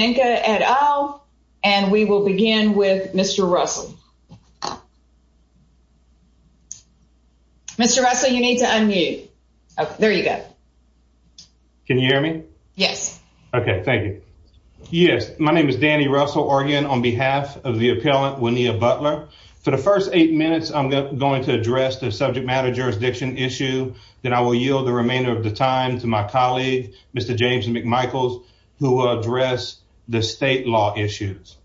Denka et al. And we will begin with Mr. Russell. Mr. Russell, you need to unmute. There you go. Can you hear me? Yes. Okay, thank you. Yes. My name is Danny Russell, Oregon on behalf of the appellant, Winnea Butler. For the first eight minutes, I'm going to address the subject matter jurisdiction issue, then I will yield the remainder of the time to my colleague, Mr. James McMichaels, who will address the state law issues.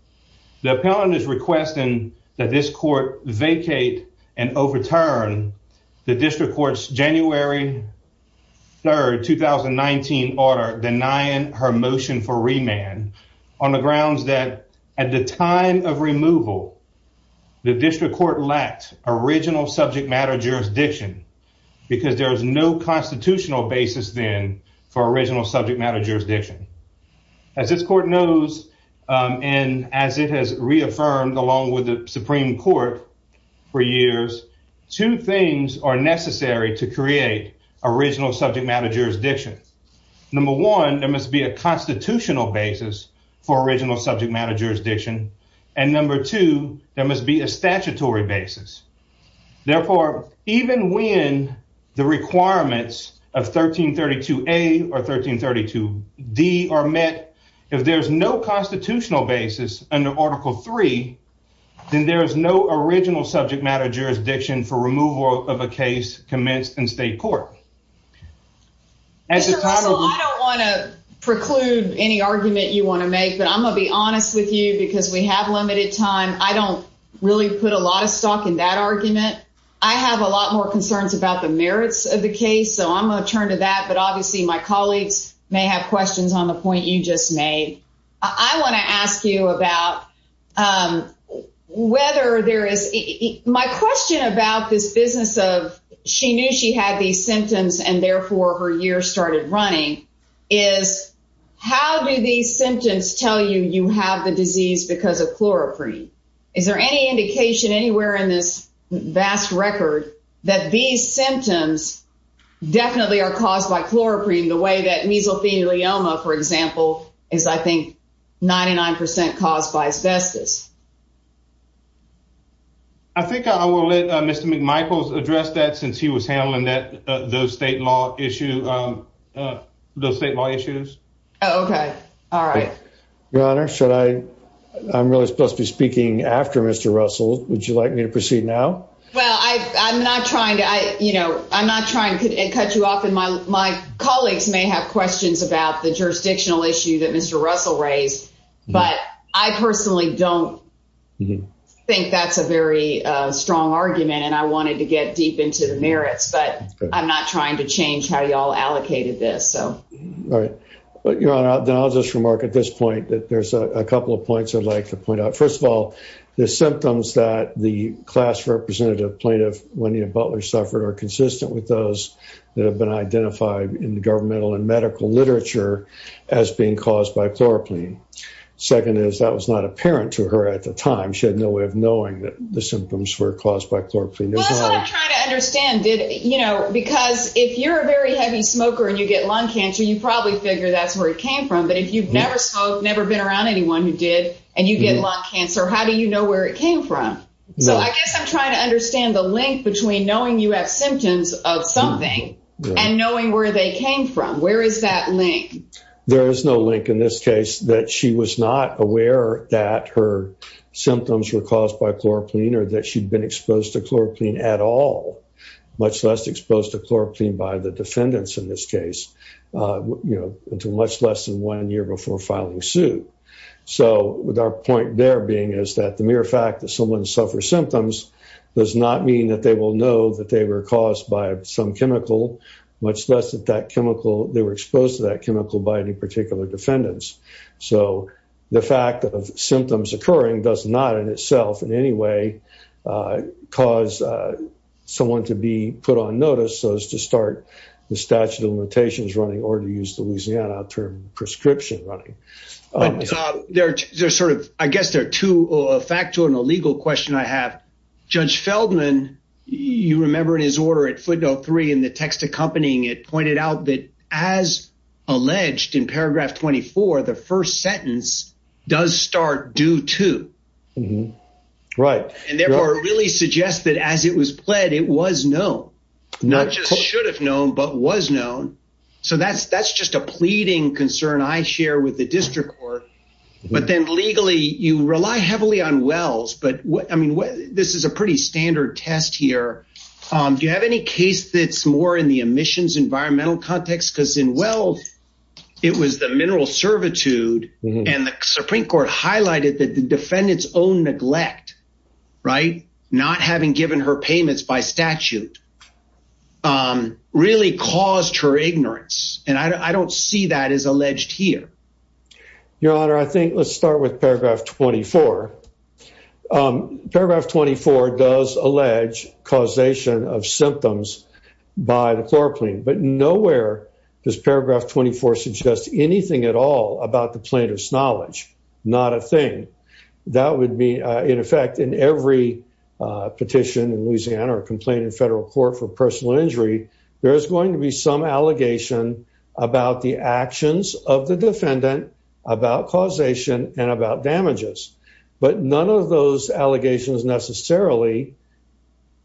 The appellant is requesting that this court vacate and overturn the district court's January 3rd 2019 order denying her motion for remand on the grounds that at the time of removal, the district court lacked original subject matter jurisdiction, because there is no constitutional basis then for original subject matter jurisdiction. As this court knows, and as it has reaffirmed along with the Supreme Court for years, two things are necessary to create original subject matter jurisdiction. Number one, there must be a constitutional basis for original subject matter jurisdiction. And number two, there must be a statutory basis. Therefore, even when the requirements of 1332A or 1332B D are met, if there's no constitutional basis under Article Three, then there is no original subject matter jurisdiction for removal of a case commenced in state court. As a title, I don't want to preclude any argument you want to make, but I'm gonna be honest with you because we have limited time. I don't really put a lot of stock in that argument. I have a lot more concerns about the merits of the case. So I'm going to turn to that. But obviously, my colleagues may have questions on the point you just made. I want to ask you about whether there is my question about this business of she knew she had these symptoms, and therefore her year started running is, how do these symptoms tell you you have the disease because of chloroprene? Is there any indication anywhere in this vast record that these symptoms definitely are caused by chloroprene the way that mesothelioma, for example, is, I think, 99% caused by asbestos? I think I will let Mr. McMichaels address that since he was handling that the state law issue. The state law issues. Okay. All right. Your Honor, should I? I'm really supposed to be speaking after Mr. Russell, would you like me to proceed now? Well, I'm not trying to I you know, I'm not trying to cut you off. And my my colleagues may have questions about the jurisdictional issue that Mr. Russell raised. But I personally don't think that's a very strong argument. And I wanted to get deep into the merits, but I'm not trying to change how y'all allocated this. So right. But you're on out there. I'll just remark at this point that there's a couple of points I'd like to point out. First of all, the symptoms that the class representative plaintiff when he suffered are consistent with those that have been identified in the governmental and medical literature as being caused by chloroplain. Second is that was not apparent to her at the time she had no way of knowing that the symptoms were caused by chloroplain. That's what I'm trying to understand. Did you know, because if you're a very heavy smoker, and you get lung cancer, you probably figure that's where it came from. But if you've never smoked, never been around anyone who did, and you get lung cancer, how do you know where it came from? So I mean, you have symptoms of something, and knowing where they came from, where is that link? There is no link in this case that she was not aware that her symptoms were caused by chloroplain or that she'd been exposed to chloroplain at all, much less exposed to chloroplain by the defendants in this case, you know, until much less than one year before filing suit. So with our point there being is that the mere fact that someone suffers symptoms does not mean that they will know that they were caused by some chemical, much less that that chemical, they were exposed to that chemical by any particular defendants. So the fact of symptoms occurring does not in itself in any way, cause someone to be put on notice so as to start the statute of limitations running or to use the Louisiana term prescription running. There's sort of, I guess there are two, a factual and a legal question I have, Judge Feldman, you remember in his order at footnote three, in the text accompanying it pointed out that as alleged in paragraph 24, the first sentence does start due to right, and therefore really suggest that as it was pled, it was no, not just should have known but was known. So that's that's just a pleading concern I share with the district court. But then legally, you rely heavily on wells. But I mean, this is a pretty standard test here. Do you have any case that's more in the emissions environmental context, because in well, it was the mineral servitude, and the Supreme Court highlighted that the defendants own neglect, right, not having given her payments by statute, really caused her ignorance. And I don't see that as alleged here. Your Honor, I think let's start with paragraph 24. Paragraph 24 does allege causation of symptoms by the chloroplane. But nowhere does paragraph 24 suggest anything at all about the plaintiff's knowledge, not a thing. That would be in effect in every petition in Louisiana or complaint in federal court for personal injury, there's going to be some allegation about the actions of the defendant about causation and about damages. But none of those allegations necessarily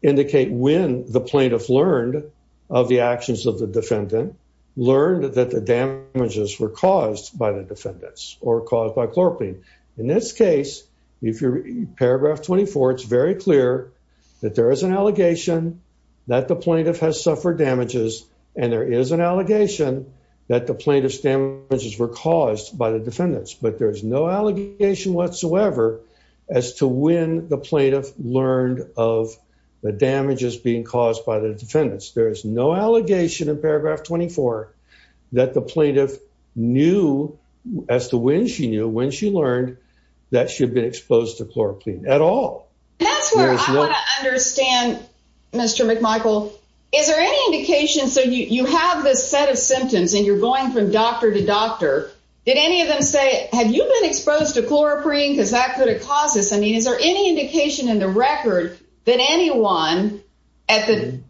indicate when the plaintiff learned of the actions of the defendant learned that the damages were caused by the defendants or caused by chloroplane. In this case, if you're paragraph 24, it's very clear that there is an allegation that the plaintiff has suffered damages. And there is an allegation that the plaintiff's damages were caused by the defendants. But there's no allegation whatsoever, as to when the plaintiff learned of the damages being caused by the defendants. There is no allegation in paragraph 24, that the plaintiff knew as to when she knew when she learned that she had been exposed to chloroplane at all. That's where I want to understand, Mr. McMichael, is there any indication so you have this set of symptoms and you're going from doctor to doctor? Did any of them say have you been exposed to chloroprene? Because that could have caused this? I mean, is there any indication in the record that anyone at the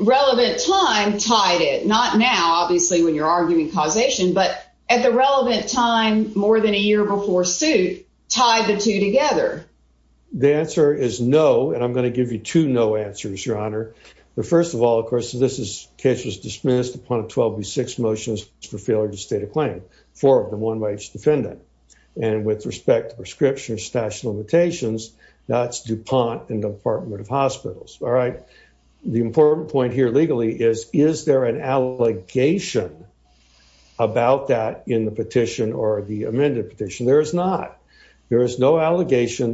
relevant time tied it not now, obviously, when you're arguing causation, but at the relevant time, more than a year before suit tied the two together? The answer is no. And I'm going to give you two no answers, Your Honor. The first of all, of course, this is case was dismissed upon a 12 v six motions for failure to state a claim for the one by each defendant. And with respect to prescription stash limitations, that's DuPont and Department of Hospitals. All right. The important point here legally is is there an allegation about that in the petition or the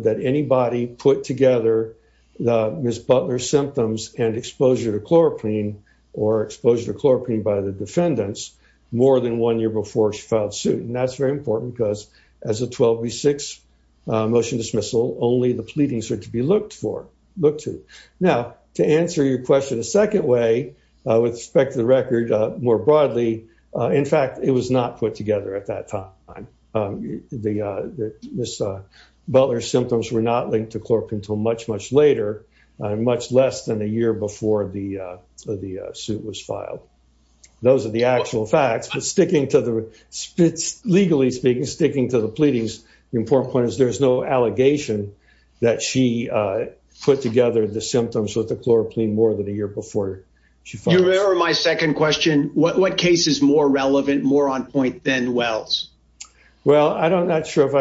that anybody put together the Ms. Butler symptoms and exposure to chloroprene or exposure to chloroprene by the defendants more than one year before she filed suit. And that's very important because as a 12 v six motion dismissal, only the pleadings are to be looked for, looked to. Now, to answer your question a second way, with respect to the record, more broadly, in fact, it was not put together at that time. The Ms. Butler symptoms were not linked to chloroprene until much, much later, much less than a year before the the suit was filed. Those are the actual facts. But sticking to the spits, legally speaking, sticking to the pleadings, the important point is there's no allegation that she put together the symptoms with the chloroprene more than a year before. Your Honor, my second question, what what case is more relevant more on point than Wells? Well, I don't not sure if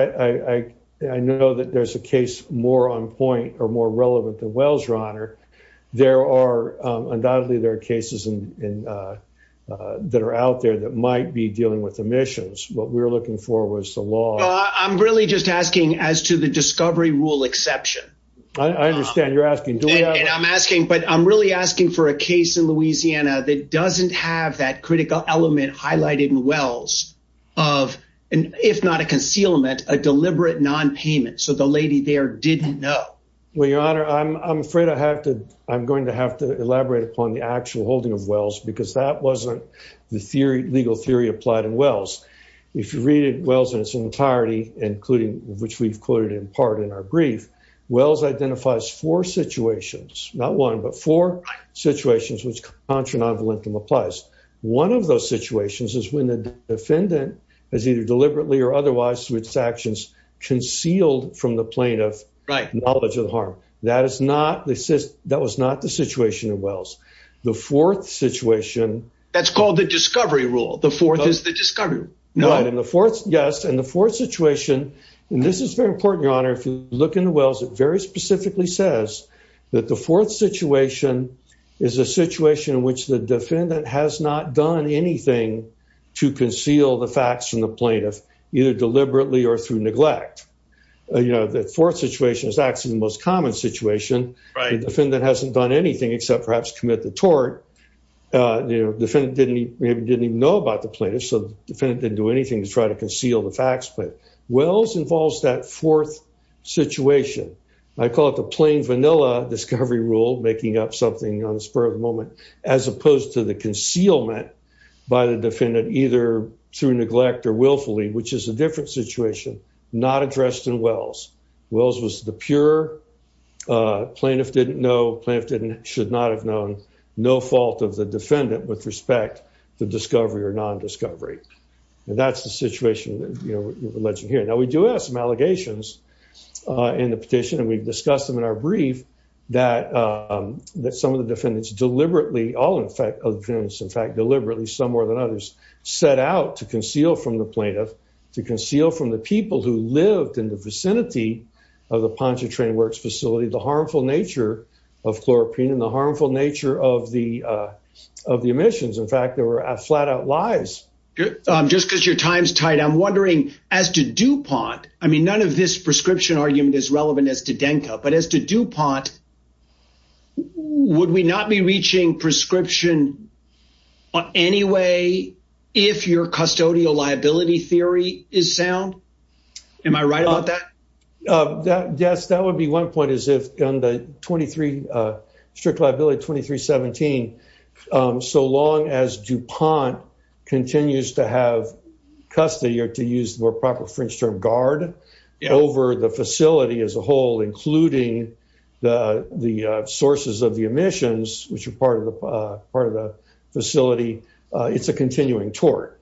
I know that there's a case more on point or more relevant than Wells, Your Honor. There are undoubtedly there are cases in that are out there that might be dealing with emissions. What we're looking for was the law. I'm really just asking as to the discovery rule exception. I understand you're asking. And I'm asking but I'm really asking for a case in Louisiana that doesn't have that critical element highlighted in Wells of an if not a concealment, a deliberate nonpayment. So the lady there didn't know. Well, Your Honor, I'm afraid I have to, I'm going to have to elaborate upon the actual holding of Wells because that wasn't the theory legal theory applied in Wells. If you read Wells in its entirety, including which we've quoted in part in our brief, Wells identifies four situations, not one but four situations which contra non-valentum applies. One of those situations is when the defendant has either deliberately or otherwise switched actions concealed from the plaintiff right knowledge of the harm. That is not this is that was not the situation in Wells. The fourth situation. That's called the discovery rule. The fourth is the discovery. Right. And the fourth, yes. And the fourth situation, and this is very important, Your Honor, if you look into Wells, it very The fourth situation is a situation in which the defendant has not done anything to conceal the facts from the plaintiff, either deliberately or through neglect. You know, the fourth situation is actually the most common situation. The defendant hasn't done anything except perhaps commit the tort. The defendant didn't even know about the plaintiff. So the defendant didn't do anything to try to conceal the facts. But Wells involves that fourth situation. I call it the plain vanilla discovery rule, making up something on the spur of the moment, as opposed to the concealment by the defendant, either through neglect or willfully, which is a different situation, not addressed in Wells. Wells was the pure plaintiff didn't know plaintiff didn't should not have known no fault of the defendant with respect to discovery or nondiscovery. And that's the situation that you know, alleged here. Now we do have some allegations in the brief, that that some of the defendants deliberately all in fact, in fact, deliberately some more than others set out to conceal from the plaintiff to conceal from the people who lived in the vicinity of the Pontchartrain works facility, the harmful nature of chloroprene and the harmful nature of the of the emissions. In fact, there were a flat out lies. Just because your time's tight. I'm wondering, as to DuPont, I mean, none of this prescription argument is relevant as to Anka, but as to DuPont, would we not be reaching prescription on any way? If your custodial liability theory is sound? Am I right about that? That Yes, that would be one point is if on the 23, strict liability 2317. So long as DuPont continues to have custody or to use the more proper French term guard over the facility as a whole, including the the sources of the emissions, which are part of the part of the facility, it's a continuing tort.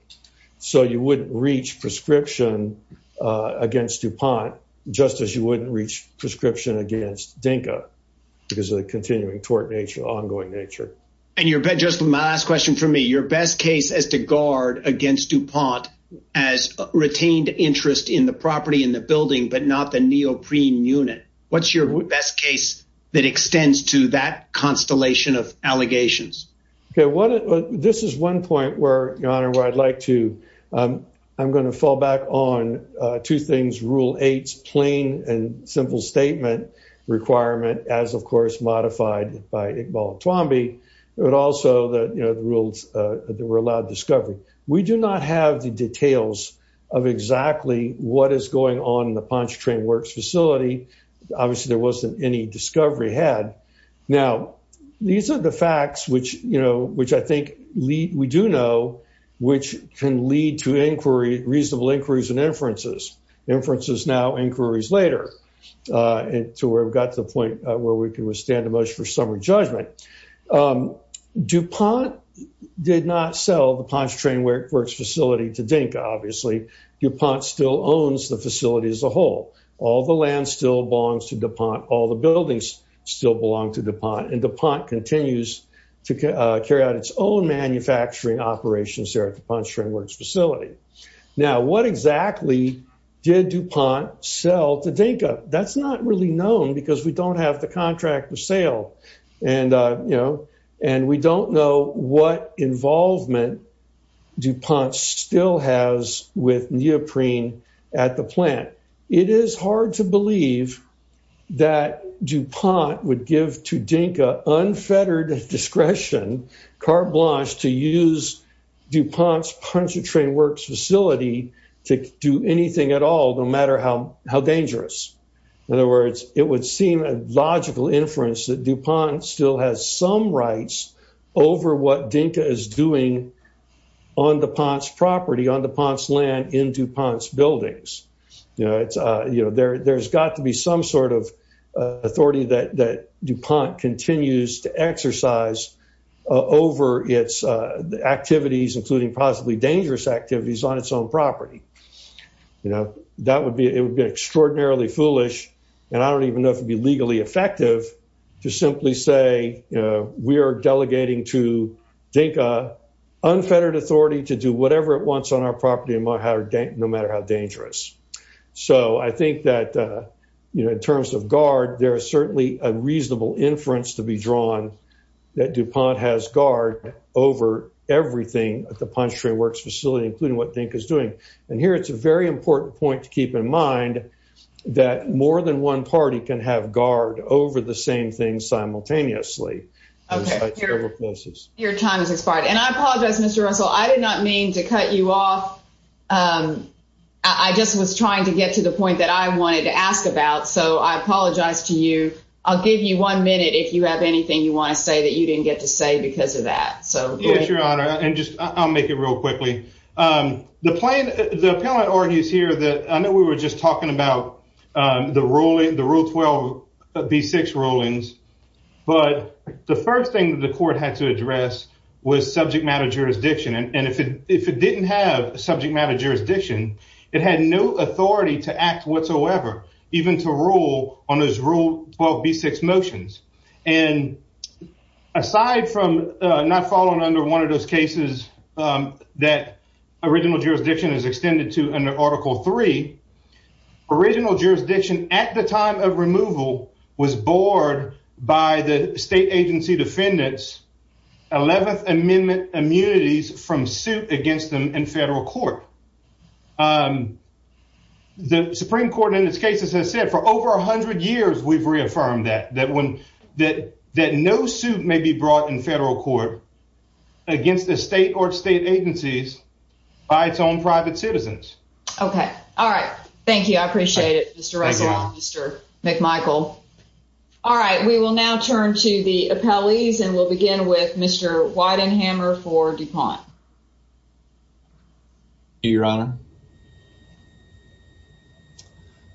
So you wouldn't reach prescription against DuPont, just as you wouldn't reach prescription against Dinka, because of the continuing tort nature, ongoing nature. And you're just my last question for me, your best case as to guard against DuPont, as retained interest in the What's your best case that extends to that constellation of allegations? Okay, what this is one point where your honor where I'd like to, I'm going to fall back on two things, rule eight, plain and simple statement requirement, as of course, modified by Iqbal Twombly, but also the rules that were allowed discovery, we do not have the details of exactly what is going on in the punch train works facility. Obviously, there wasn't any discovery had. Now, these are the facts which you know, which I think lead we do know, which can lead to inquiry reasonable inquiries and inferences, inferences now inquiries later, to where we've got to the point where we can withstand a motion for summary judgment. DuPont did not sell the punch train where it works facility to Dinka, obviously, DuPont still owns the facility as a whole, all the land still belongs to DuPont, all the buildings still belong to DuPont and DuPont continues to carry out its own manufacturing operations there at the punch train works facility. Now, what exactly did DuPont sell to Dinka? That's not really known because we don't have the contract of sale. And, you know, and we don't know what involvement DuPont still has with neoprene at the plant. It is hard to believe that DuPont would give to Dinka unfettered discretion, carte blanche, to use DuPont's punch train works facility to do anything at all, no matter how dangerous. In other words, it would seem a over what Dinka is doing on DuPont's property on DuPont's land in DuPont's buildings. You know, it's, you know, there's got to be some sort of authority that DuPont continues to exercise over its activities, including possibly dangerous activities on its own property. You know, that would be it would be extraordinarily foolish. And I don't even know if it'd be legally effective to simply say, we're delegating to Dinka unfettered authority to do whatever it wants on our property, no matter how dangerous. So I think that, you know, in terms of guard, there is certainly a reasonable inference to be drawn that DuPont has guard over everything at the punch train works facility, including what Dinka is doing. And here, it's a very important point to keep in mind that more than one party can have guard over the same thing simultaneously. Your time is expired. And I apologize, Mr. Russell, I did not mean to cut you off. I just was trying to get to the point that I wanted to ask about. So I apologize to you. I'll give you one minute if you have anything you want to say that you didn't get to say because of that. So yes, Your Honor, and just I'll make it real quickly. The plan, the appellant argues here that I know we were just talking about the ruling, the rule 12. B six rulings. But the first thing that the court had to address was subject matter jurisdiction. And if it if it didn't have subject matter jurisdiction, it had no authority to act whatsoever, even to rule on his rule 12. B six motions. And aside from not falling under one of those cases, that original jurisdiction is extended to under Article three, original jurisdiction at the time of removal was bored by the state agency defendants 11th Amendment immunities from suit against them in federal court. The Supreme Court in its cases has said for over 100 years, we've reaffirmed that that when that that no suit may be brought in federal court against the state court state agencies by its own private citizens. Okay. All right. Thank you. I appreciate it. Mr. Russell, Mr. McMichael. All right, we will now turn to the appellees and we'll begin with Mr. Weidenhammer for DuPont. Your Honor.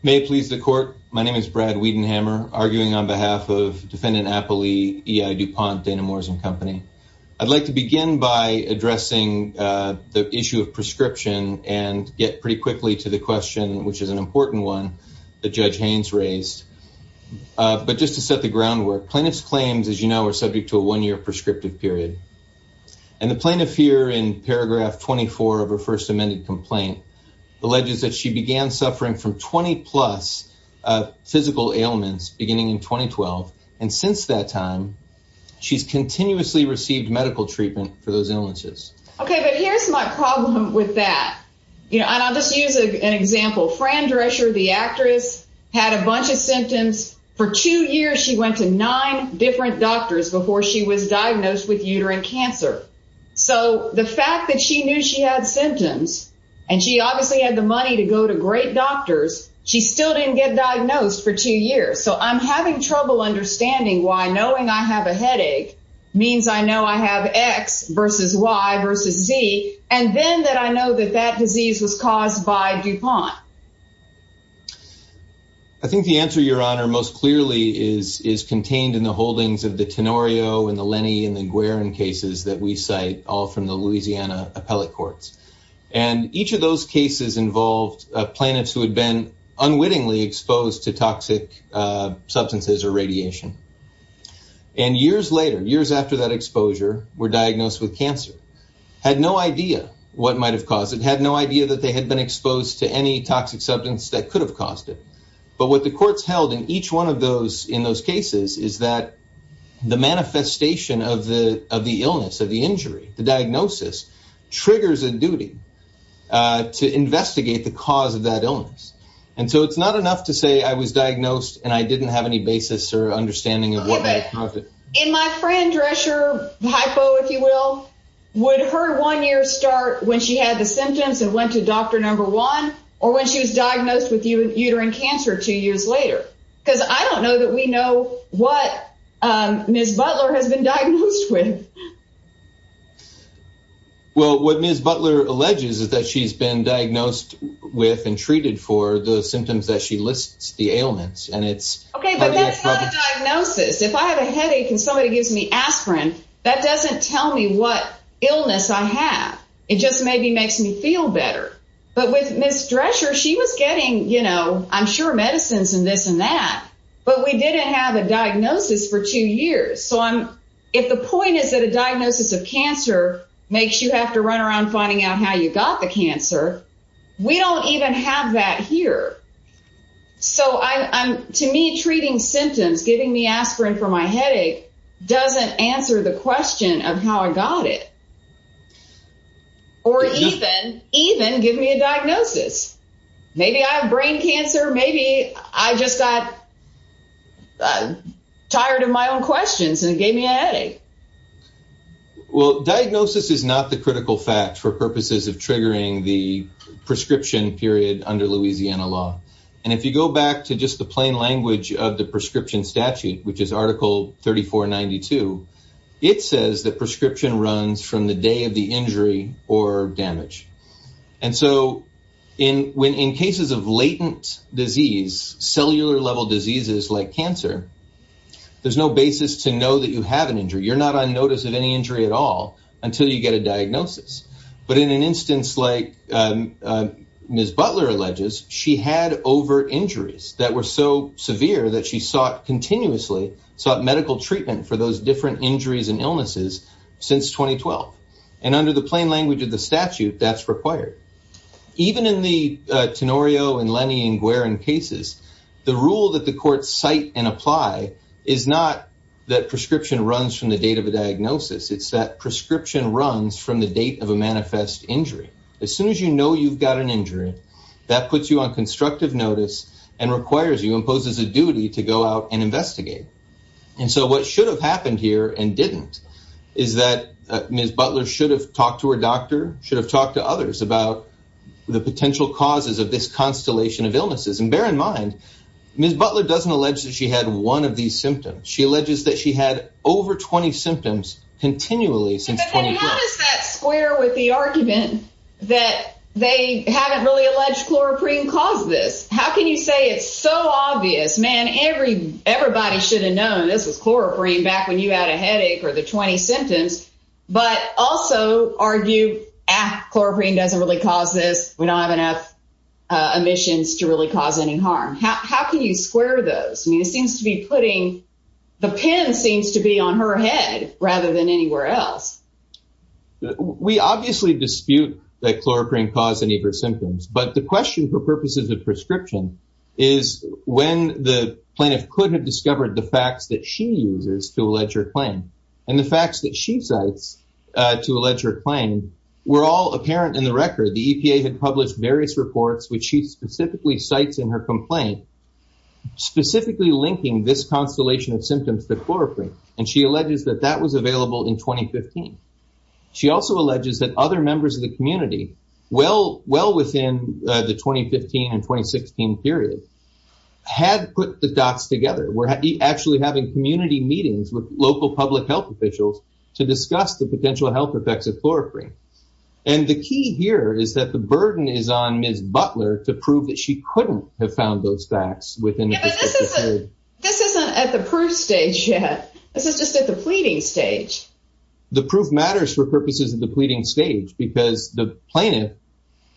May please the court. My name is Brad Weidenhammer arguing on behalf of defendant appellee EI DuPont Dana Morrison Company. I'd like to begin by addressing the issue of prescription and get pretty quickly to the question, which is an important one that Judge Haynes raised. But just to set the groundwork, plaintiffs claims, as you know, are subject to a one year prescriptive period. And the plaintiff here in paragraph 24 of her first amended complaint, alleges that she began suffering from 20 plus physical ailments beginning in 2012. And since that time, she's continuously received medical treatment for those illnesses. Okay, but here's my problem with that. You know, I'll just use an example. Fran Drescher, the actress had a bunch of symptoms for two years, she went to nine different doctors before she was diagnosed with uterine cancer. So the fact that she knew she had symptoms, and she obviously had the money to go to great doctors, she still didn't get diagnosed for two years. So I'm having trouble understanding why knowing I have a headache means I know I have x versus y versus z. And then that I know that that disease was caused by DuPont. I think the answer, Your Honor, most clearly is is contained in the holdings of the Tenorio and the Lenny and the Guerin cases that we cite all from the Louisiana appellate courts. And each of those cases involved plaintiffs who had been unwittingly exposed to toxic substances or radiation. And years later, years after that exposure, were diagnosed with cancer, had no idea what might have caused it had no idea that they had been exposed to any toxic substance that could have caused it. But what the courts held in each one of those in those cases is that the manifestation of the of the illness of the injury, the diagnosis, triggers a duty to it's not enough to say I was diagnosed and I didn't have any basis or understanding of what in my friend dress your hypo if you will, would her one year start when she had the symptoms and went to Dr. Number one, or when she was diagnosed with uterine cancer two years later, because I don't know that we know what Ms. Butler has been diagnosed with. Well, what Ms. Butler alleges is that she's been diagnosed with and treated for the symptoms that she lists the ailments and it's okay. But that's not a diagnosis. If I have a headache and somebody gives me aspirin, that doesn't tell me what illness I have. It just maybe makes me feel better. But with Miss Drescher, she was getting you know, I'm sure medicines and this and that. But we didn't have a diagnosis for two years. So I'm if the point is that a diagnosis of cancer makes you have to run around finding out how you got the cancer. We don't even have that here. So I'm to me treating symptoms, giving me aspirin for my headache doesn't answer the question of how I got it. Or even even give me a diagnosis. Maybe I have brain cancer. Maybe I just got tired of my own questions and gave me a well diagnosis is not the critical fact for purposes of under Louisiana law. And if you go back to just the plain language of the prescription statute, which is article 3492 it says that prescription runs from the day of the injury or damage. And so in when in cases of latent disease, cellular level diseases like cancer, there's no basis to know that you have an injury, you're not on notice of any injury at all But in an instance like Ms. Butler alleges she had over injuries that were so severe that she sought continuously sought medical treatment for those different injuries and illnesses since 2012. And under the plain language of the statute that's required. Even in the Tenorio and Lenny and Guerin cases, the rule that the court cite and apply is not that prescription runs from the date of a diagnosis. It's that date of a manifest injury. As soon as you know you've got an injury, that puts you on constructive notice and requires you imposes a duty to go out and investigate. And so what should have happened here and didn't is that Ms. Butler should have talked to her doctor should have talked to others about the potential causes of this constellation of illnesses and bear in mind, Ms. Butler doesn't allege that she had one of these symptoms. She alleges that she had over 20 symptoms continually since that square with the argument that they haven't really alleged chloroprene cause this. How can you say it's so obvious, man, every everybody should have known this was chloroprene back when you had a headache or the 20 symptoms, but also argue at chloroprene doesn't really cause this, we don't have enough emissions to really cause any harm. How can you square those? I mean, it seems to be putting the pen seems to be on her head rather than anywhere else. We obviously dispute that chloroprene cause any of her symptoms. But the question for purposes of prescription is when the plaintiff could have discovered the facts that she uses to allege her claim. And the facts that she cites to allege her claim, were all apparent in the record, the EPA had published various reports, which she specifically cites in her complaint, specifically linking this constellation of symptoms to chloroprene. And she alleges that that was available in 2015. She also alleges that other members of the community, well, well within the 2015 and 2016 period, had put the dots together, we're actually having community meetings with local public health officials to discuss the potential health effects of chloroprene. And the key here is that the burden is on Ms. Butler to prove that she couldn't have found those facts within this isn't at the proof stage yet. This is just at the pleading stage. The proof matters for purposes of the pleading stage because the plaintiff,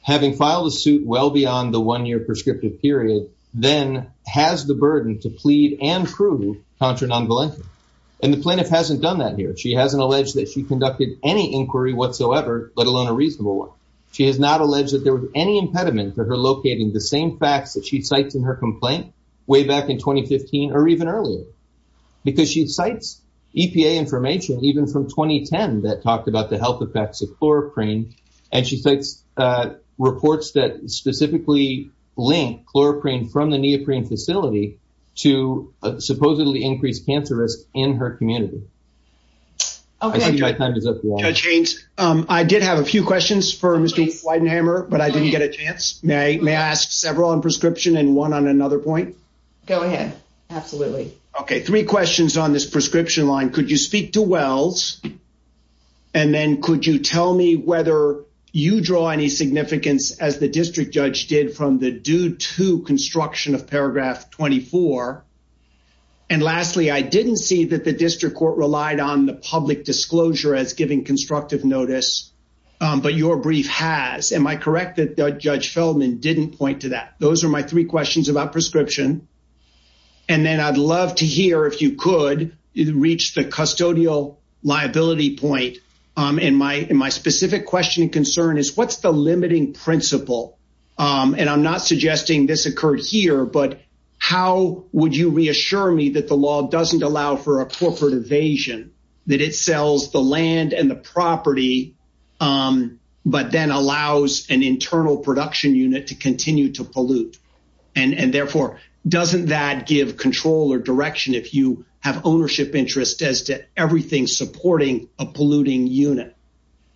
having filed a suit well beyond the one year prescriptive period, then has the burden to plead and prove contra non volentia. And the plaintiff hasn't done that here. She hasn't alleged that she conducted any inquiry whatsoever, let alone a reasonable one. She has not alleged that there was any impediment to her locating the same facts that she cites in her complaint, way back in 2015, or even earlier. Because she cites EPA information, even from 2010 that talked about the health effects of chloroprene. And she cites reports that specifically link chloroprene from the neoprene facility to supposedly increased cancer risk in her community. Okay, Judge Haynes, I did have a few questions for Mr. Weidenhammer, but I didn't get a chance. May I ask several on prescription and one on another point? Go ahead. Absolutely. Okay, three questions on this prescription line. Could you speak to Wells? And then could you tell me whether you draw any significance as the district judge did from the due to construction of paragraph 24? And lastly, I didn't see that the district court relied on the public disclosure as giving constructive notice. But your brief has Am I correct that Judge Feldman didn't point to that? Those are my three questions about prescription. And then I'd love to hear if you could reach the custodial liability point. And my in my specific question and concern is what's the limiting principle? And I'm not suggesting this occurred here. But how would you assure me that the law doesn't allow for a corporate evasion, that it sells the land and the property, but then allows an internal production unit to continue to pollute? And therefore, doesn't that give control or direction if you have ownership interest as to everything supporting a polluting unit?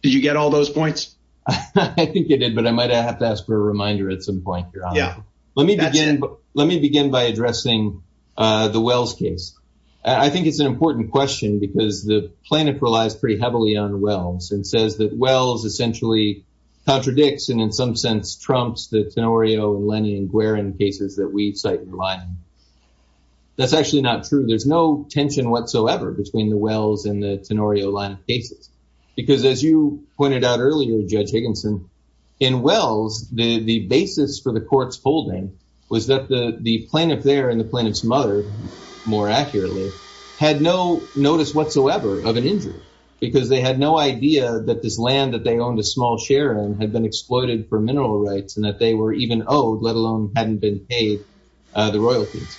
Did you get all those points? I think it did. But I might have to ask for a reminder at some point. Yeah, let me begin. Let me begin by addressing the Wells case. I think it's an important question, because the planet relies pretty heavily on wells and says that wells essentially contradicts and in some sense, trumps the Tenorio Lenny and Guerin cases that we cite in line. That's actually not true. There's no tension whatsoever between the wells and the Tenorio line of cases. Because as you pointed out with the court's holding, was that the the plaintiff there and the plaintiff's mother, more accurately, had no notice whatsoever of an injury, because they had no idea that this land that they owned a small share in had been exploited for mineral rights and that they were even owed let alone hadn't been paid the royalties.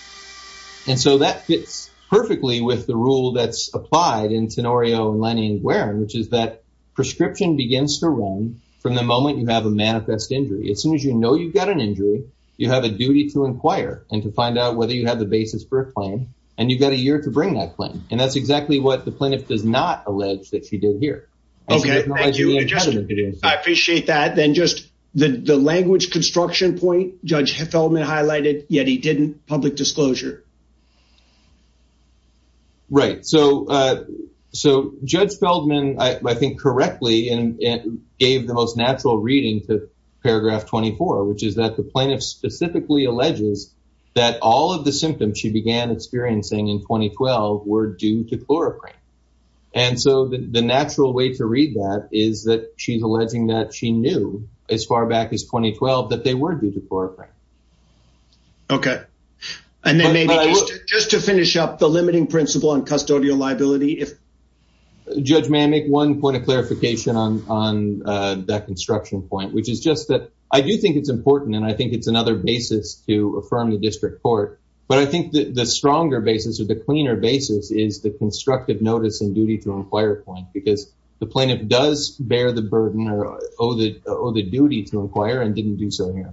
And so that fits perfectly with the rule that's applied in Tenorio and Lenny and Guerin, which is that prescription begins to run from the moment you have a manifest injury, as soon as you know, you've got an injury, you have a duty to inquire and to find out whether you have the basis for a claim. And you've got a year to bring that claim. And that's exactly what the plaintiff does not allege that she did here. Okay, I appreciate that. Then just the language construction point, Judge Feldman highlighted, yet he didn't public disclosure. Right, so. So Judge Feldman, I think correctly, and gave the most natural reading to paragraph 24, which is that the plaintiff specifically alleges that all of the symptoms she began experiencing in 2012 were due to chloroform. And so the natural way to read that is that she's alleging that she knew as far back as 2012, that they were due to chloroform. Okay. And then maybe just to finish up the limiting principle on custodial liability, if Judge may I make one point of clarification on on that construction point, which is just that I do think it's important. And I think it's another basis to affirm the district court. But I think that the stronger basis or the cleaner basis is the constructive notice and duty to inquire point because the plaintiff does bear the burden or owe the owe the duty to inquire and didn't do so here.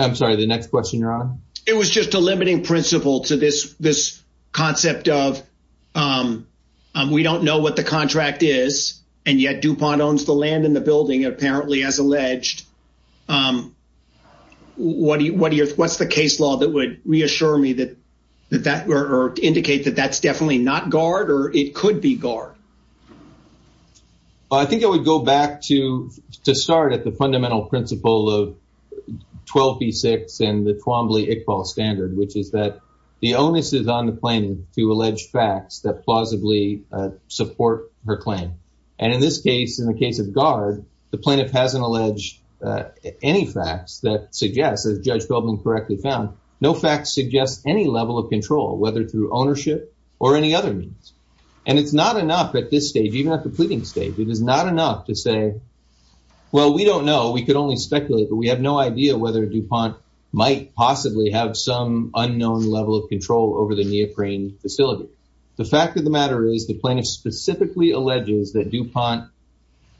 I'm sorry, the next question, Your Honor, it was just a limiting principle to this this concept of we don't know what the contract is. And yet DuPont owns the land in the building apparently as alleged. What do you what do you what's the case law that would reassure me that that that were indicate that that's definitely not guard or it could be guard? I think it would go back to to start at the fundamental principle of 12 v six and the Twombly Iqbal standard, which is that the onus is on the plaintiff to allege facts that plausibly support her claim. And in this case, in the case of guard, the plaintiff hasn't alleged any facts that suggests as Judge Goldman correctly found, no facts suggest any level of control, whether through ownership, or any other means. And it's not enough at this stage, even at the pleading stage, it is not enough to say, well, we don't know we could only speculate, but we have no idea whether DuPont might possibly have some unknown level of control over the neoprene facility. The fact of the matter is the plaintiff specifically alleges that DuPont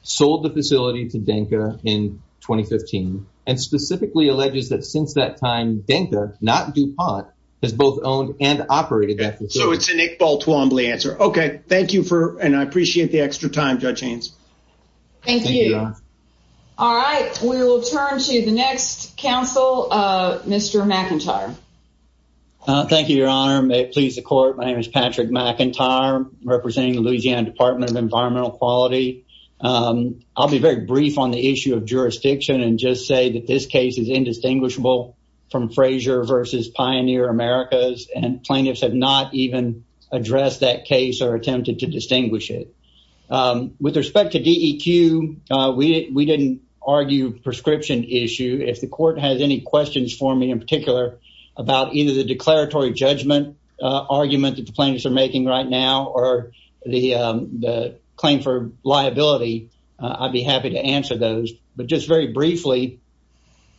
sold the facility to Denka in 2015, and specifically alleges that since that time, Denka not DuPont has both owned and operated. So it's an Iqbal Twombly answer. Okay, thank you for and I appreciate the extra time, Judge Haynes. Thank you. All right, we will turn to the next counsel, Mr. McIntyre. Thank you, Your Honor, may it please the court. My name is Patrick McIntyre, representing the Louisiana Department of Environmental Quality. I'll be very brief on the issue of jurisdiction and just say that this case is indistinguishable from Frazier versus Pioneer Americas, and plaintiffs have not even addressed that case or attempted to distinguish it. With respect to DEQ, we didn't argue prescription issue. If the court has any questions for me in particular, about either the declaratory judgment argument that the plaintiffs are making right now or the claim for liability, I'd be happy to answer those. But just very briefly,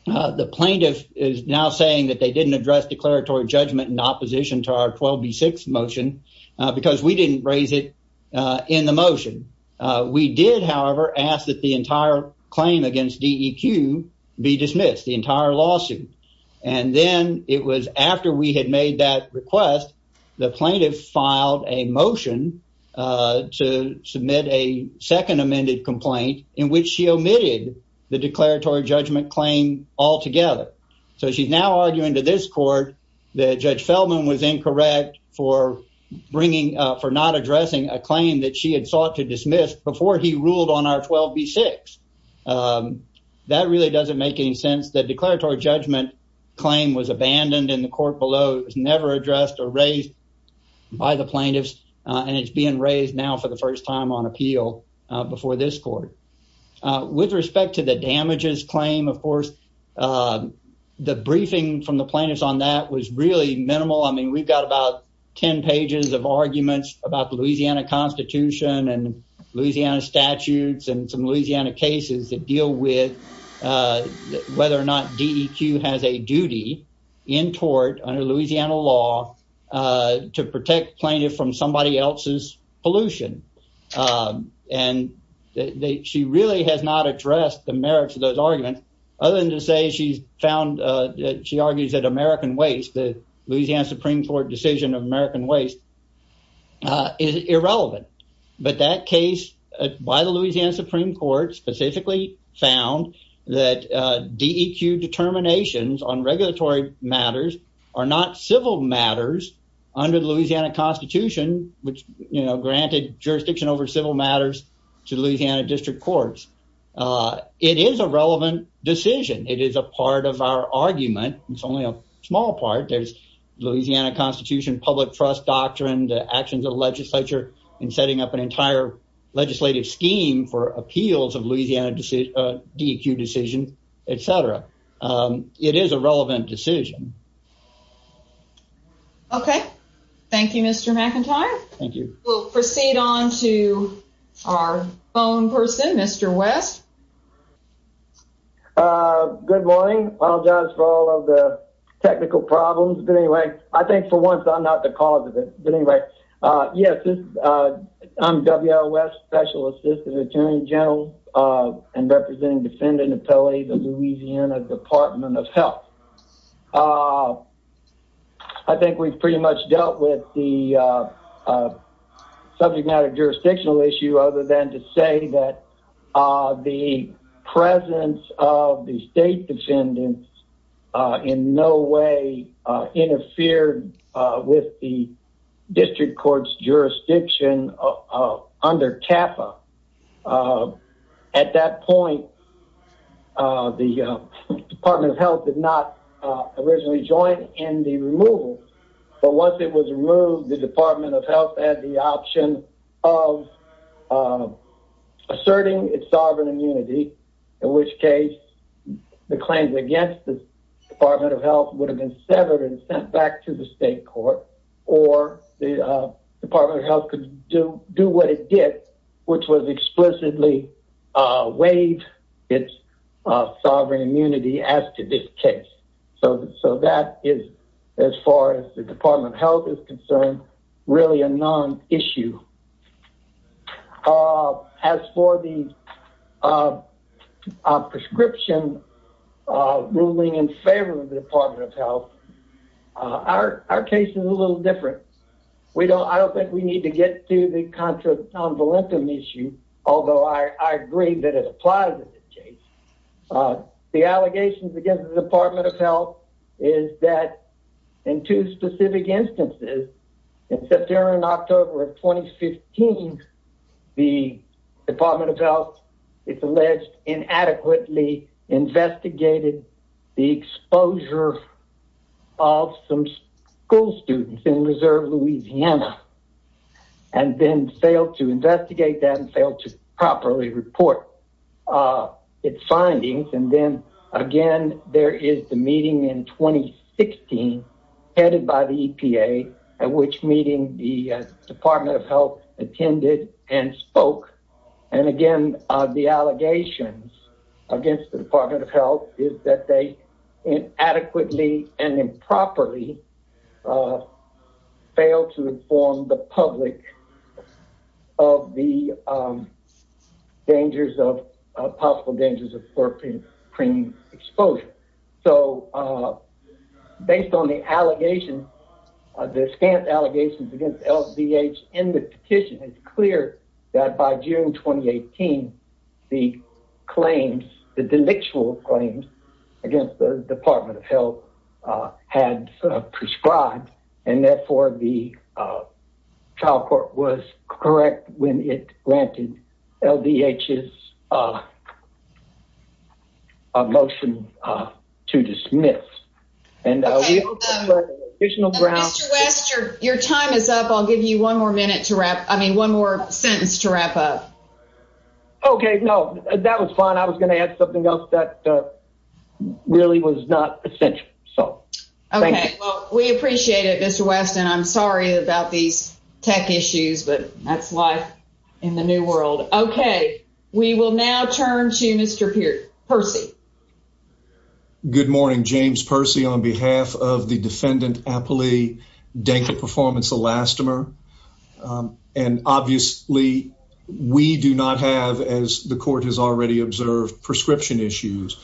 the plaintiff is now saying that they didn't address declaratory judgment in opposition to our 12B6 motion, because we didn't raise it in the motion. We did, however, ask that the entire claim against DEQ be dismissed, the entire lawsuit. And then it was after we had made that request, the plaintiff filed a motion to submit a second amended complaint in which she omitted the declaratory judgment claim altogether. So she's now arguing to this court that Judge Feldman was incorrect for bringing for not addressing a claim that she had sought to dismiss before he ruled on our 12B6. That really doesn't make any sense. The declaratory judgment claim was abandoned in the court below. It was never addressed or raised by the plaintiffs. And it's being raised now for the first time on appeal before this court. With respect to the damages claim, of course, the briefing from the plaintiffs on that was really minimal. I mean, we've got about 10 pages of arguments about the Louisiana Constitution and Louisiana statutes and some Louisiana cases that deal with whether or not DEQ has a duty in court under Louisiana law to protect plaintiff from somebody else's pollution. And that she really has not addressed the merits of those arguments. Other than to say she's found that she argues that American Waste, the American Waste, is irrelevant. But that case by the Louisiana Supreme Court specifically found that DEQ determinations on regulatory matters are not civil matters under the Louisiana Constitution, which, you know, granted jurisdiction over civil matters to the Louisiana District Courts. It is a relevant decision. It is a part of our argument. It's only a small part there's Louisiana Constitution, public trust doctrine, the actions of legislature, and setting up an entire legislative scheme for appeals of Louisiana DEQ decision, etc. It is a relevant decision. Okay. Thank you, Mr. McIntyre. Thank you. We'll proceed on to our phone person, Mr. West. Good morning. Apologize for all of the technical problems. But anyway, I think for once I'm not the cause of it. But anyway, yes, I'm W.L. West, Special Assistant Attorney General, and representing Defendant Appellee, the Louisiana Department of Health. I think we've pretty much dealt with the subject matter jurisdictional issue other than to say that the presence of the state defendants in no way interfered with the District Court's jurisdiction under CAFA. At that point, the Department of Health did not originally join in the removal. But once it was removed, the Department of Health had the In which case, the claims against the Department of Health would have been severed and sent back to the state court, or the Department of Health could do what it did, which was explicitly waive its sovereign immunity as to this case. So that is, as far as the Department of Health is prescription, ruling in favor of the Department of Health. Our case is a little different. We don't I don't think we need to get to the contra-convalentum issue. Although I agree that it applies in this case. The allegations against the Department of Health is that in two specific instances, in Inadequately investigated the exposure of some school students in Reserve, Louisiana, and then failed to investigate that and failed to properly report its findings. And then, again, there is the meeting in 2016, headed by the EPA, at which meeting the against the Department of Health is that they inadequately and improperly failed to inform the public of the dangers of possible dangers of scorpion cream exposure. So based on the allegation, the scant allegations against LVH in the petition is clear that by June 2018, the claims, the delictual claims against the Department of Health had prescribed and therefore the trial court was correct when it granted LVH's a motion to dismiss. And your time is up. I'll give you one more minute to wrap up. I mean, one more sentence to wrap up. Okay, no, that was fine. I was gonna add something else that really was not essential. So we appreciate it. Mr. Weston, I'm sorry about these tech issues, but that's life in the new world. Okay, we will now turn to Mr. Percy. Good morning, James Percy, on behalf of the defendant, Apolli Danka performance elastomer. And obviously, we do not have as the court has already observed prescription issues.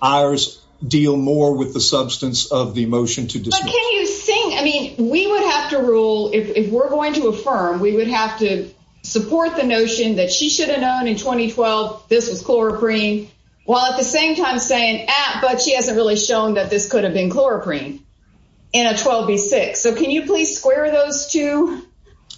Ours deal more with the substance of the motion to dismiss. Can you sing? I mean, we would have to rule if we're going to affirm, we would have to support the notion that she should have known in 2012, this was chloroprene. While at the same time saying, but she hasn't really shown that this could have been chloroprene in a 12 v six. So can you please square those two?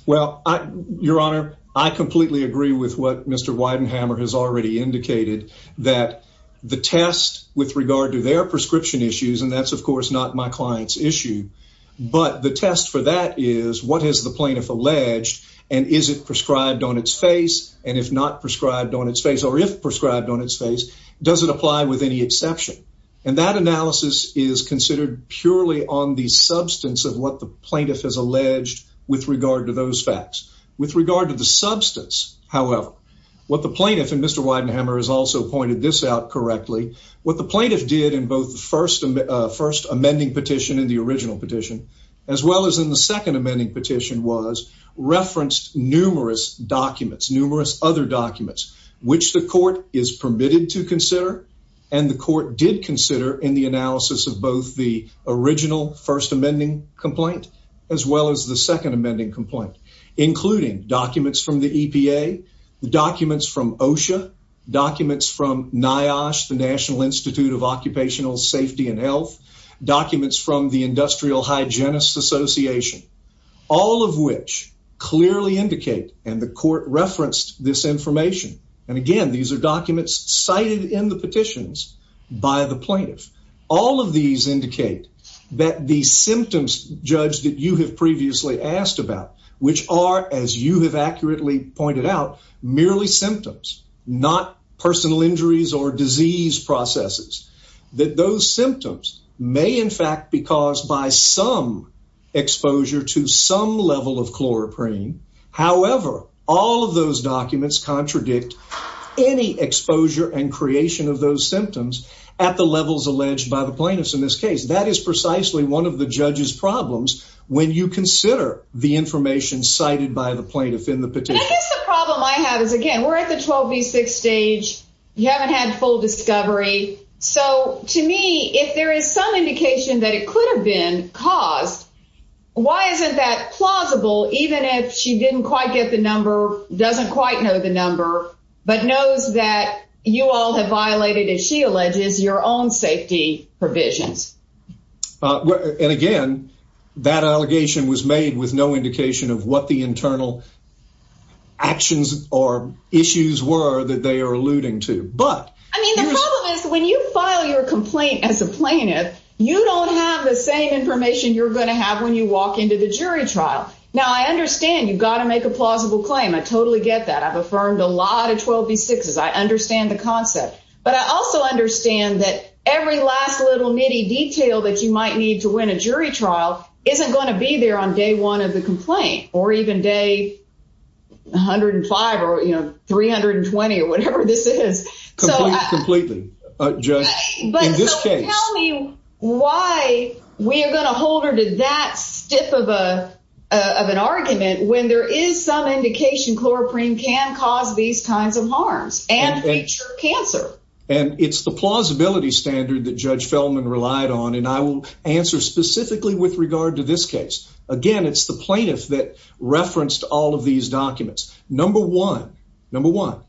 Well, I, Your Honor, I completely agree with what Mr. Weidenhammer has already indicated that the test with regard to their prescription issues, and that's, of course, not my client's issue. But the test for that is what has the plaintiff alleged? And is it prescribed on its face? And if not prescribed on its face, or if prescribed on its face? Does it apply with any exception? And that analysis is considered purely on the substance of what the plaintiff has alleged with regard to those facts. With regard to the substance, however, what the plaintiff and Mr. Weidenhammer has also pointed this out correctly, what the plaintiff did in both the first and first amending petition in the original petition, as well as in the second amending petition was referenced numerous documents, numerous other documents, which the court is permitted to consider. And the court did consider in the analysis of both the original first amending complaint, as well as the second amending complaint, including documents from the EPA, the documents from OSHA documents from NIOSH, the National Institute of Occupational Safety and Health documents from the Industrial Hygienists Association, all of which clearly indicate and the court and these are documents cited in the petitions by the plaintiff, all of these indicate that the symptoms judge that you have previously asked about, which are as you have accurately pointed out, merely symptoms, not personal injuries or disease processes, that those symptoms may in fact, be caused by some exposure to some level of chloroprene. However, all of those documents contradict any exposure and creation of those symptoms at the levels alleged by the plaintiffs. In this case, that is precisely one of the judges problems when you consider the information cited by the plaintiff in the petition. I guess the problem I have is again, we're at the 12 v six stage, you haven't had full discovery. So to me, if there is some indication that it could have been caused, why isn't that even if she didn't quite get the number doesn't quite know the number, but knows that you all have violated as she alleges your own safety provisions. And again, that allegation was made with no indication of what the internal actions or issues were that they are alluding to. But I mean, the problem is when you file your complaint as a plaintiff, you don't have the same information you're going to have when you walk into the jury trial. Now I understand you've got to make a plausible claim. I totally get that I've affirmed a lot of 12 v sixes. I understand the concept. But I also understand that every last little nitty detail that you might need to win a jury trial isn't going to be there on day one of the complaint or even day 105, or you know, 320 or whatever this is. Completely. Just tell me why we are going to hold her to that stiff of a of an argument when there is some indication chloroprene can cause these kinds of harms and cancer. And it's the plausibility standard that Judge Feldman relied on. And I will answer specifically with regard to this case. Again, it's the plaintiff that referenced all of these documents. Number one, number one,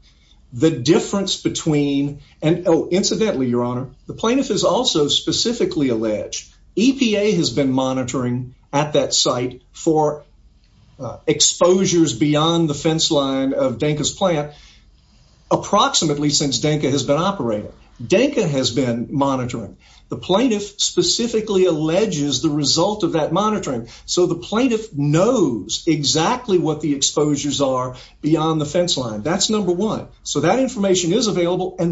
the difference between an incidentally, Your Honor, the plaintiff is also specifically alleged EPA has been monitoring at that site for exposures beyond the fence line of Dankers plant. Approximately since Danka has been operating, Danka has been monitoring the plaintiff specifically alleges the result of that monitoring. So the plaintiff knows exactly what the exposures are beyond the fence line. That's number one. So that information is alleged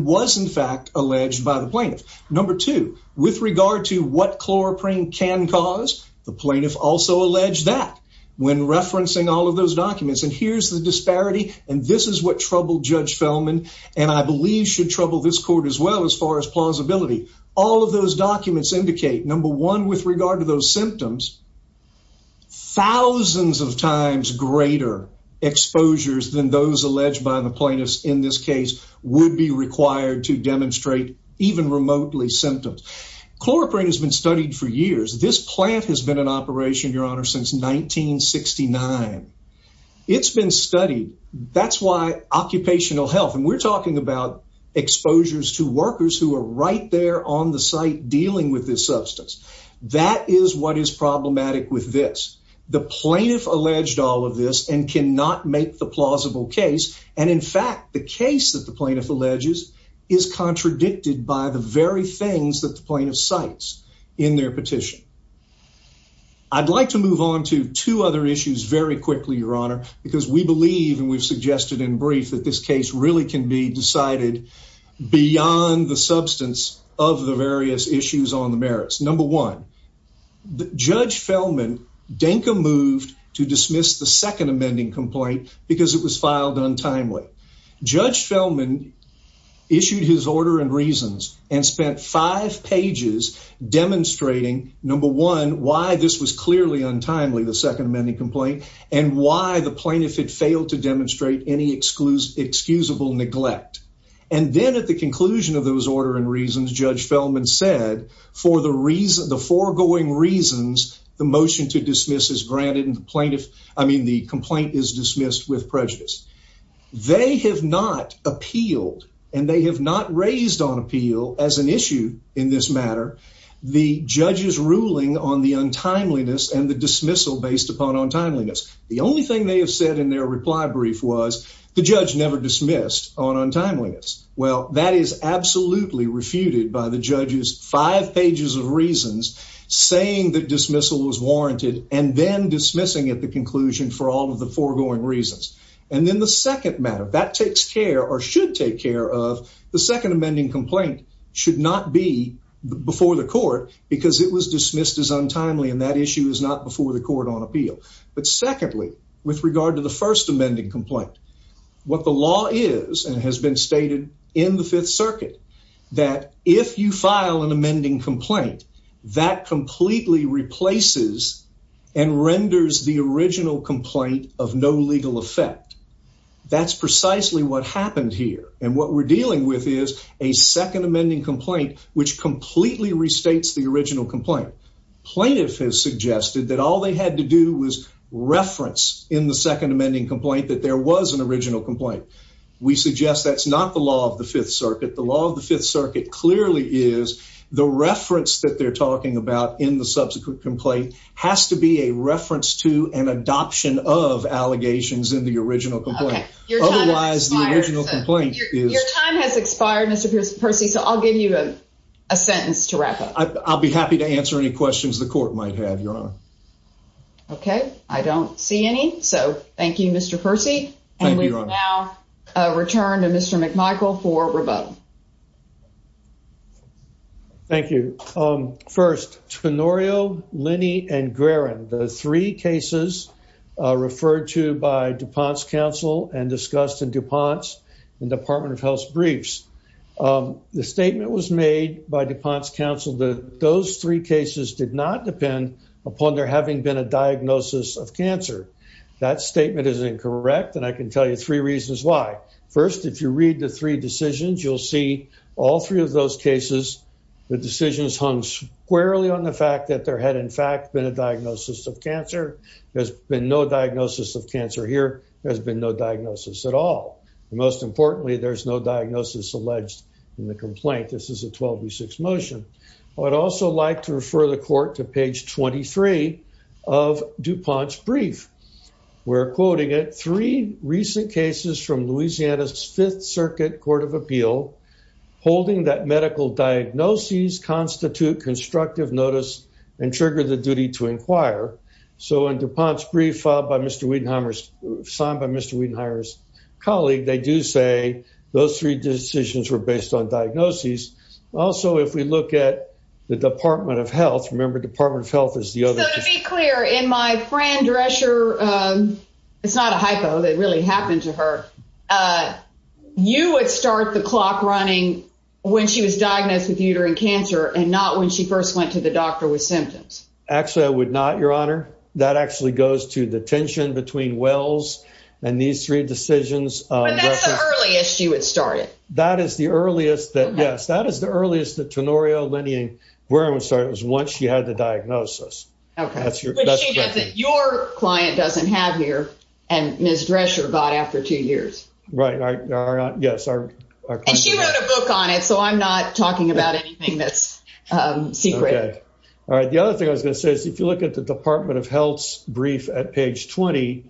by the plaintiff. Number two, with regard to what chloroprene can cause, the plaintiff also alleged that when referencing all of those documents, and here's the disparity. And this is what troubled Judge Feldman, and I believe should trouble this court as well. As far as plausibility, all of those documents indicate number one, with regard to those symptoms, thousands of times greater exposures than those alleged by the plaintiffs in this case would be required to demonstrate even remotely symptoms. chloroprene has been studied for years. This plant has been an operation, Your Honor, since 1969. It's been studied. That's why occupational health and we're talking about exposures to workers who are right there on the site dealing with this substance. That is what is problematic with this. The plaintiff alleged all of this and cannot make the plausible case. And in fact, the case that the plaintiff alleges is contradicted by the very things that the plaintiff cites in their petition. I'd like to move on to two other issues very quickly, Your Honor, because we believe and we've suggested in brief that this case really can be decided beyond the substance of the various issues on the merits. Number one, Judge Feldman, Denka moved to dismiss the second amending complaint because it was filed untimely. Judge Feldman issued his order and reasons and spent five pages demonstrating number one, why this was clearly untimely the second amending complaint, and why the plaintiff had failed to demonstrate any exclusive excusable neglect. And then at the conclusion of those order and reasons, Judge Feldman said, for the reason the foregoing reasons, the motion to dismiss is granted and the plaintiff, I believe, has dismissed with prejudice. They have not appealed, and they have not raised on appeal as an issue in this matter, the judge's ruling on the untimeliness and the dismissal based upon untimeliness. The only thing they have said in their reply brief was the judge never dismissed on untimeliness. Well, that is absolutely refuted by the judge's five pages of reasons, saying that dismissal is warranted and then dismissing at the conclusion for all of the foregoing reasons. And then the second matter that takes care or should take care of the second amending complaint should not be before the court because it was dismissed as untimely and that issue is not before the court on appeal. But secondly, with regard to the first amending complaint, what the law is and has been stated in the Fifth Circuit, that if you file an amending complaint, that completely replaces and renders the original complaint of no legal effect. That's precisely what happened here. And what we're dealing with is a second amending complaint, which completely restates the original complaint. Plaintiff has suggested that all they had to do was reference in the second amending complaint that there was an original complaint. We suggest that's not the law of the Fifth Circuit. The law of the Fifth Circuit clearly is the reference that they're talking about in the subsequent complaint has to be a reference to an adoption of allegations in the original complaint. Otherwise, the original complaint is time has expired, Mr. Percy, so I'll give you a sentence to wrap up. I'll be happy to answer any questions the court might have your honor. Okay, I don't see any. So thank you, Mr. Percy. Now, return to Mr. McMichael for rebuttal. Thank you. First, Tenorio, Linny and Guerin, the three cases referred to by DuPont's counsel and discussed in DuPont's and Department of Health briefs. The statement was made by DuPont's counsel that those three cases did not depend upon there having been a diagnosis of cancer. That statement is incorrect. And I can tell you three reasons why. First, if you read the three decisions, you'll see all three of those cases, the decisions hung squarely on the fact that there had in fact been a diagnosis of cancer. There's been no diagnosis of cancer here has been no diagnosis at all. Most importantly, there's no diagnosis alleged in the complaint. This is a 12 v six motion. I would also like to refer the court to page 23 of DuPont's brief. We're quoting it three recent cases from the Department of Health. So in DuPont's brief filed by Mr. Widenhier's, signed by Mr. Widenhier's colleague, they do say those three decisions were based on diagnoses. Also, if we look at the Department of Health, remember Department of Health is the other... So to be clear, in my friend Drescher, it's not a hypo that really happened to her. You would start out with a diagnosis running when she was diagnosed with uterine cancer and not when she first went to the doctor with symptoms. Actually, I would not, Your Honor. That actually goes to the tension between Wells and these three decisions. But that's the earliest she would start it. That is the earliest that yes, that is the earliest the tenorio linea. Where I would start was once she had the diagnosis. Okay. Your client doesn't have here. And Ms. Drescher got after two years. Right. Yes. And she wrote a book on it. So I'm not talking about anything that's secret. Okay. All right. The other thing I was gonna say is if you look at the Department of Health's brief at page 20,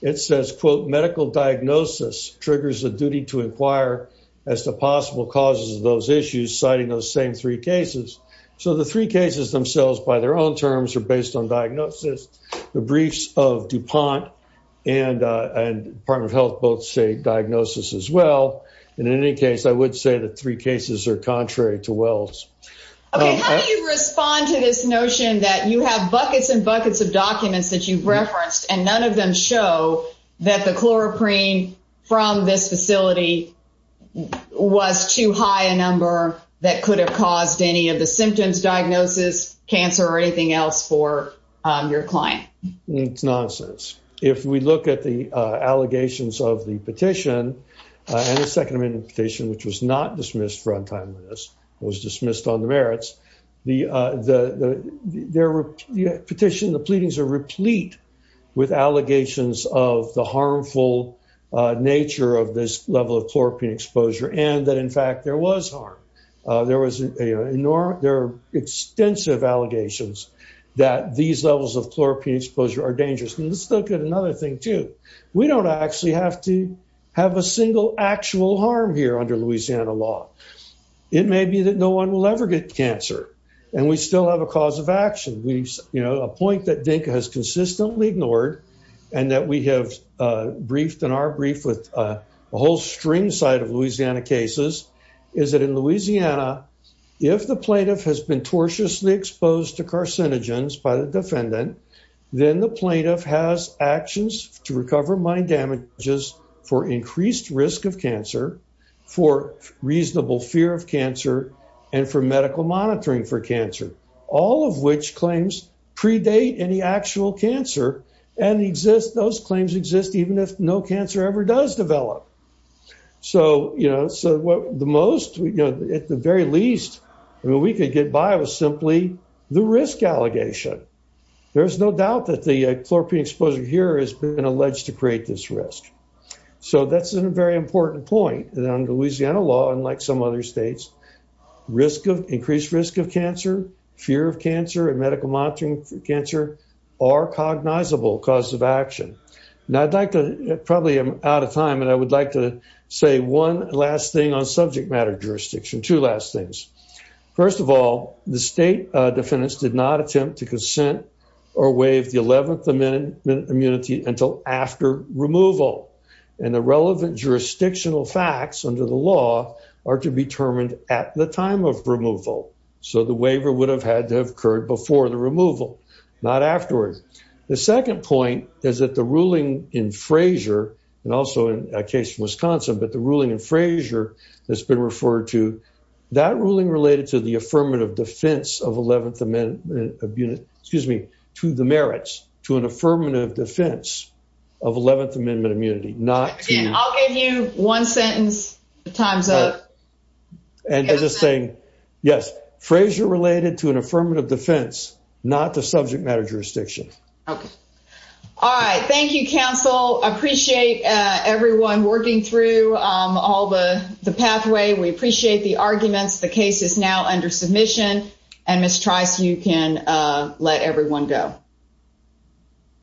it says, quote, medical diagnosis triggers the duty to inquire as to possible causes of those issues, citing those same three cases. So the three cases themselves by their own terms are based on diagnosis. The briefs of DuPont and Department of Health both say diagnosis as well. In any case, I would say that three cases are contrary to Wells. Okay. How do you respond to this notion that you have buckets and buckets of documents that you've referenced and none of them show that the chloroprene from this facility was too high a number that could have caused any of the symptoms, diagnosis, cancer or anything else for your client? It's nonsense. If we look at the allegations of the petition and the Second Amendment petition, which was not dismissed for untimeliness, it was dismissed on the merits. The petition, the pleadings are replete with allegations of the harmful nature of this level of chloroprene exposure and that, in fact, there was harm. There are extensive allegations that these levels of chloroprene exposure are dangerous. And let's look at another thing, too. We don't actually have to have a single actual harm here under Louisiana law. It may be that no one will ever get cancer and we still have a cause of action. A point that DINCA has consistently ignored and that we have briefed in our brief with a whole string side of Louisiana cases is that in Louisiana, if the plaintiff has been tortiously exposed to carcinogens by the defendant, then the plaintiff has actions to recover mind damages for increased risk of cancer, for reasonable fear of cancer and for medical monitoring for cancer, all of which claims predate any actual cancer and those claims exist even if no cancer ever does develop. So, you know, at the very least, I mean, we could get by with simply the risk allegation. There's no doubt that the chloroprene exposure here has been alleged to create this risk. So, that's a very important point that under Louisiana law, unlike some other states, increased risk of cancer, fear of cancer, and medical monitoring for cancer are cognizable causes of action. Now, I'd like to, probably I'm out of time, and I would like to say one last thing on subject matter jurisdiction, two last things. First of all, the state defendants did not attempt to consent or waive the eleventh amendment immunity until after removal, and the relevant jurisdictional facts under the law are to be determined at the time of removal. So, the waiver would have had to have occurred before the removal, not afterwards. The second point is that the ruling in Frazier, and also in a case in Wisconsin, but the that ruling related to the affirmative defense of eleventh amendment, excuse me, to the merits, to an affirmative defense of eleventh amendment immunity. Again, I'll give you one sentence, time's up. And they're just saying, yes, Frazier related to an affirmative defense, not the subject matter jurisdiction. Okay. All right. Thank you, counsel. Appreciate everyone working through all the pathway. We appreciate the arguments. The case is now under submission, and Ms. Trice, you can let everyone go.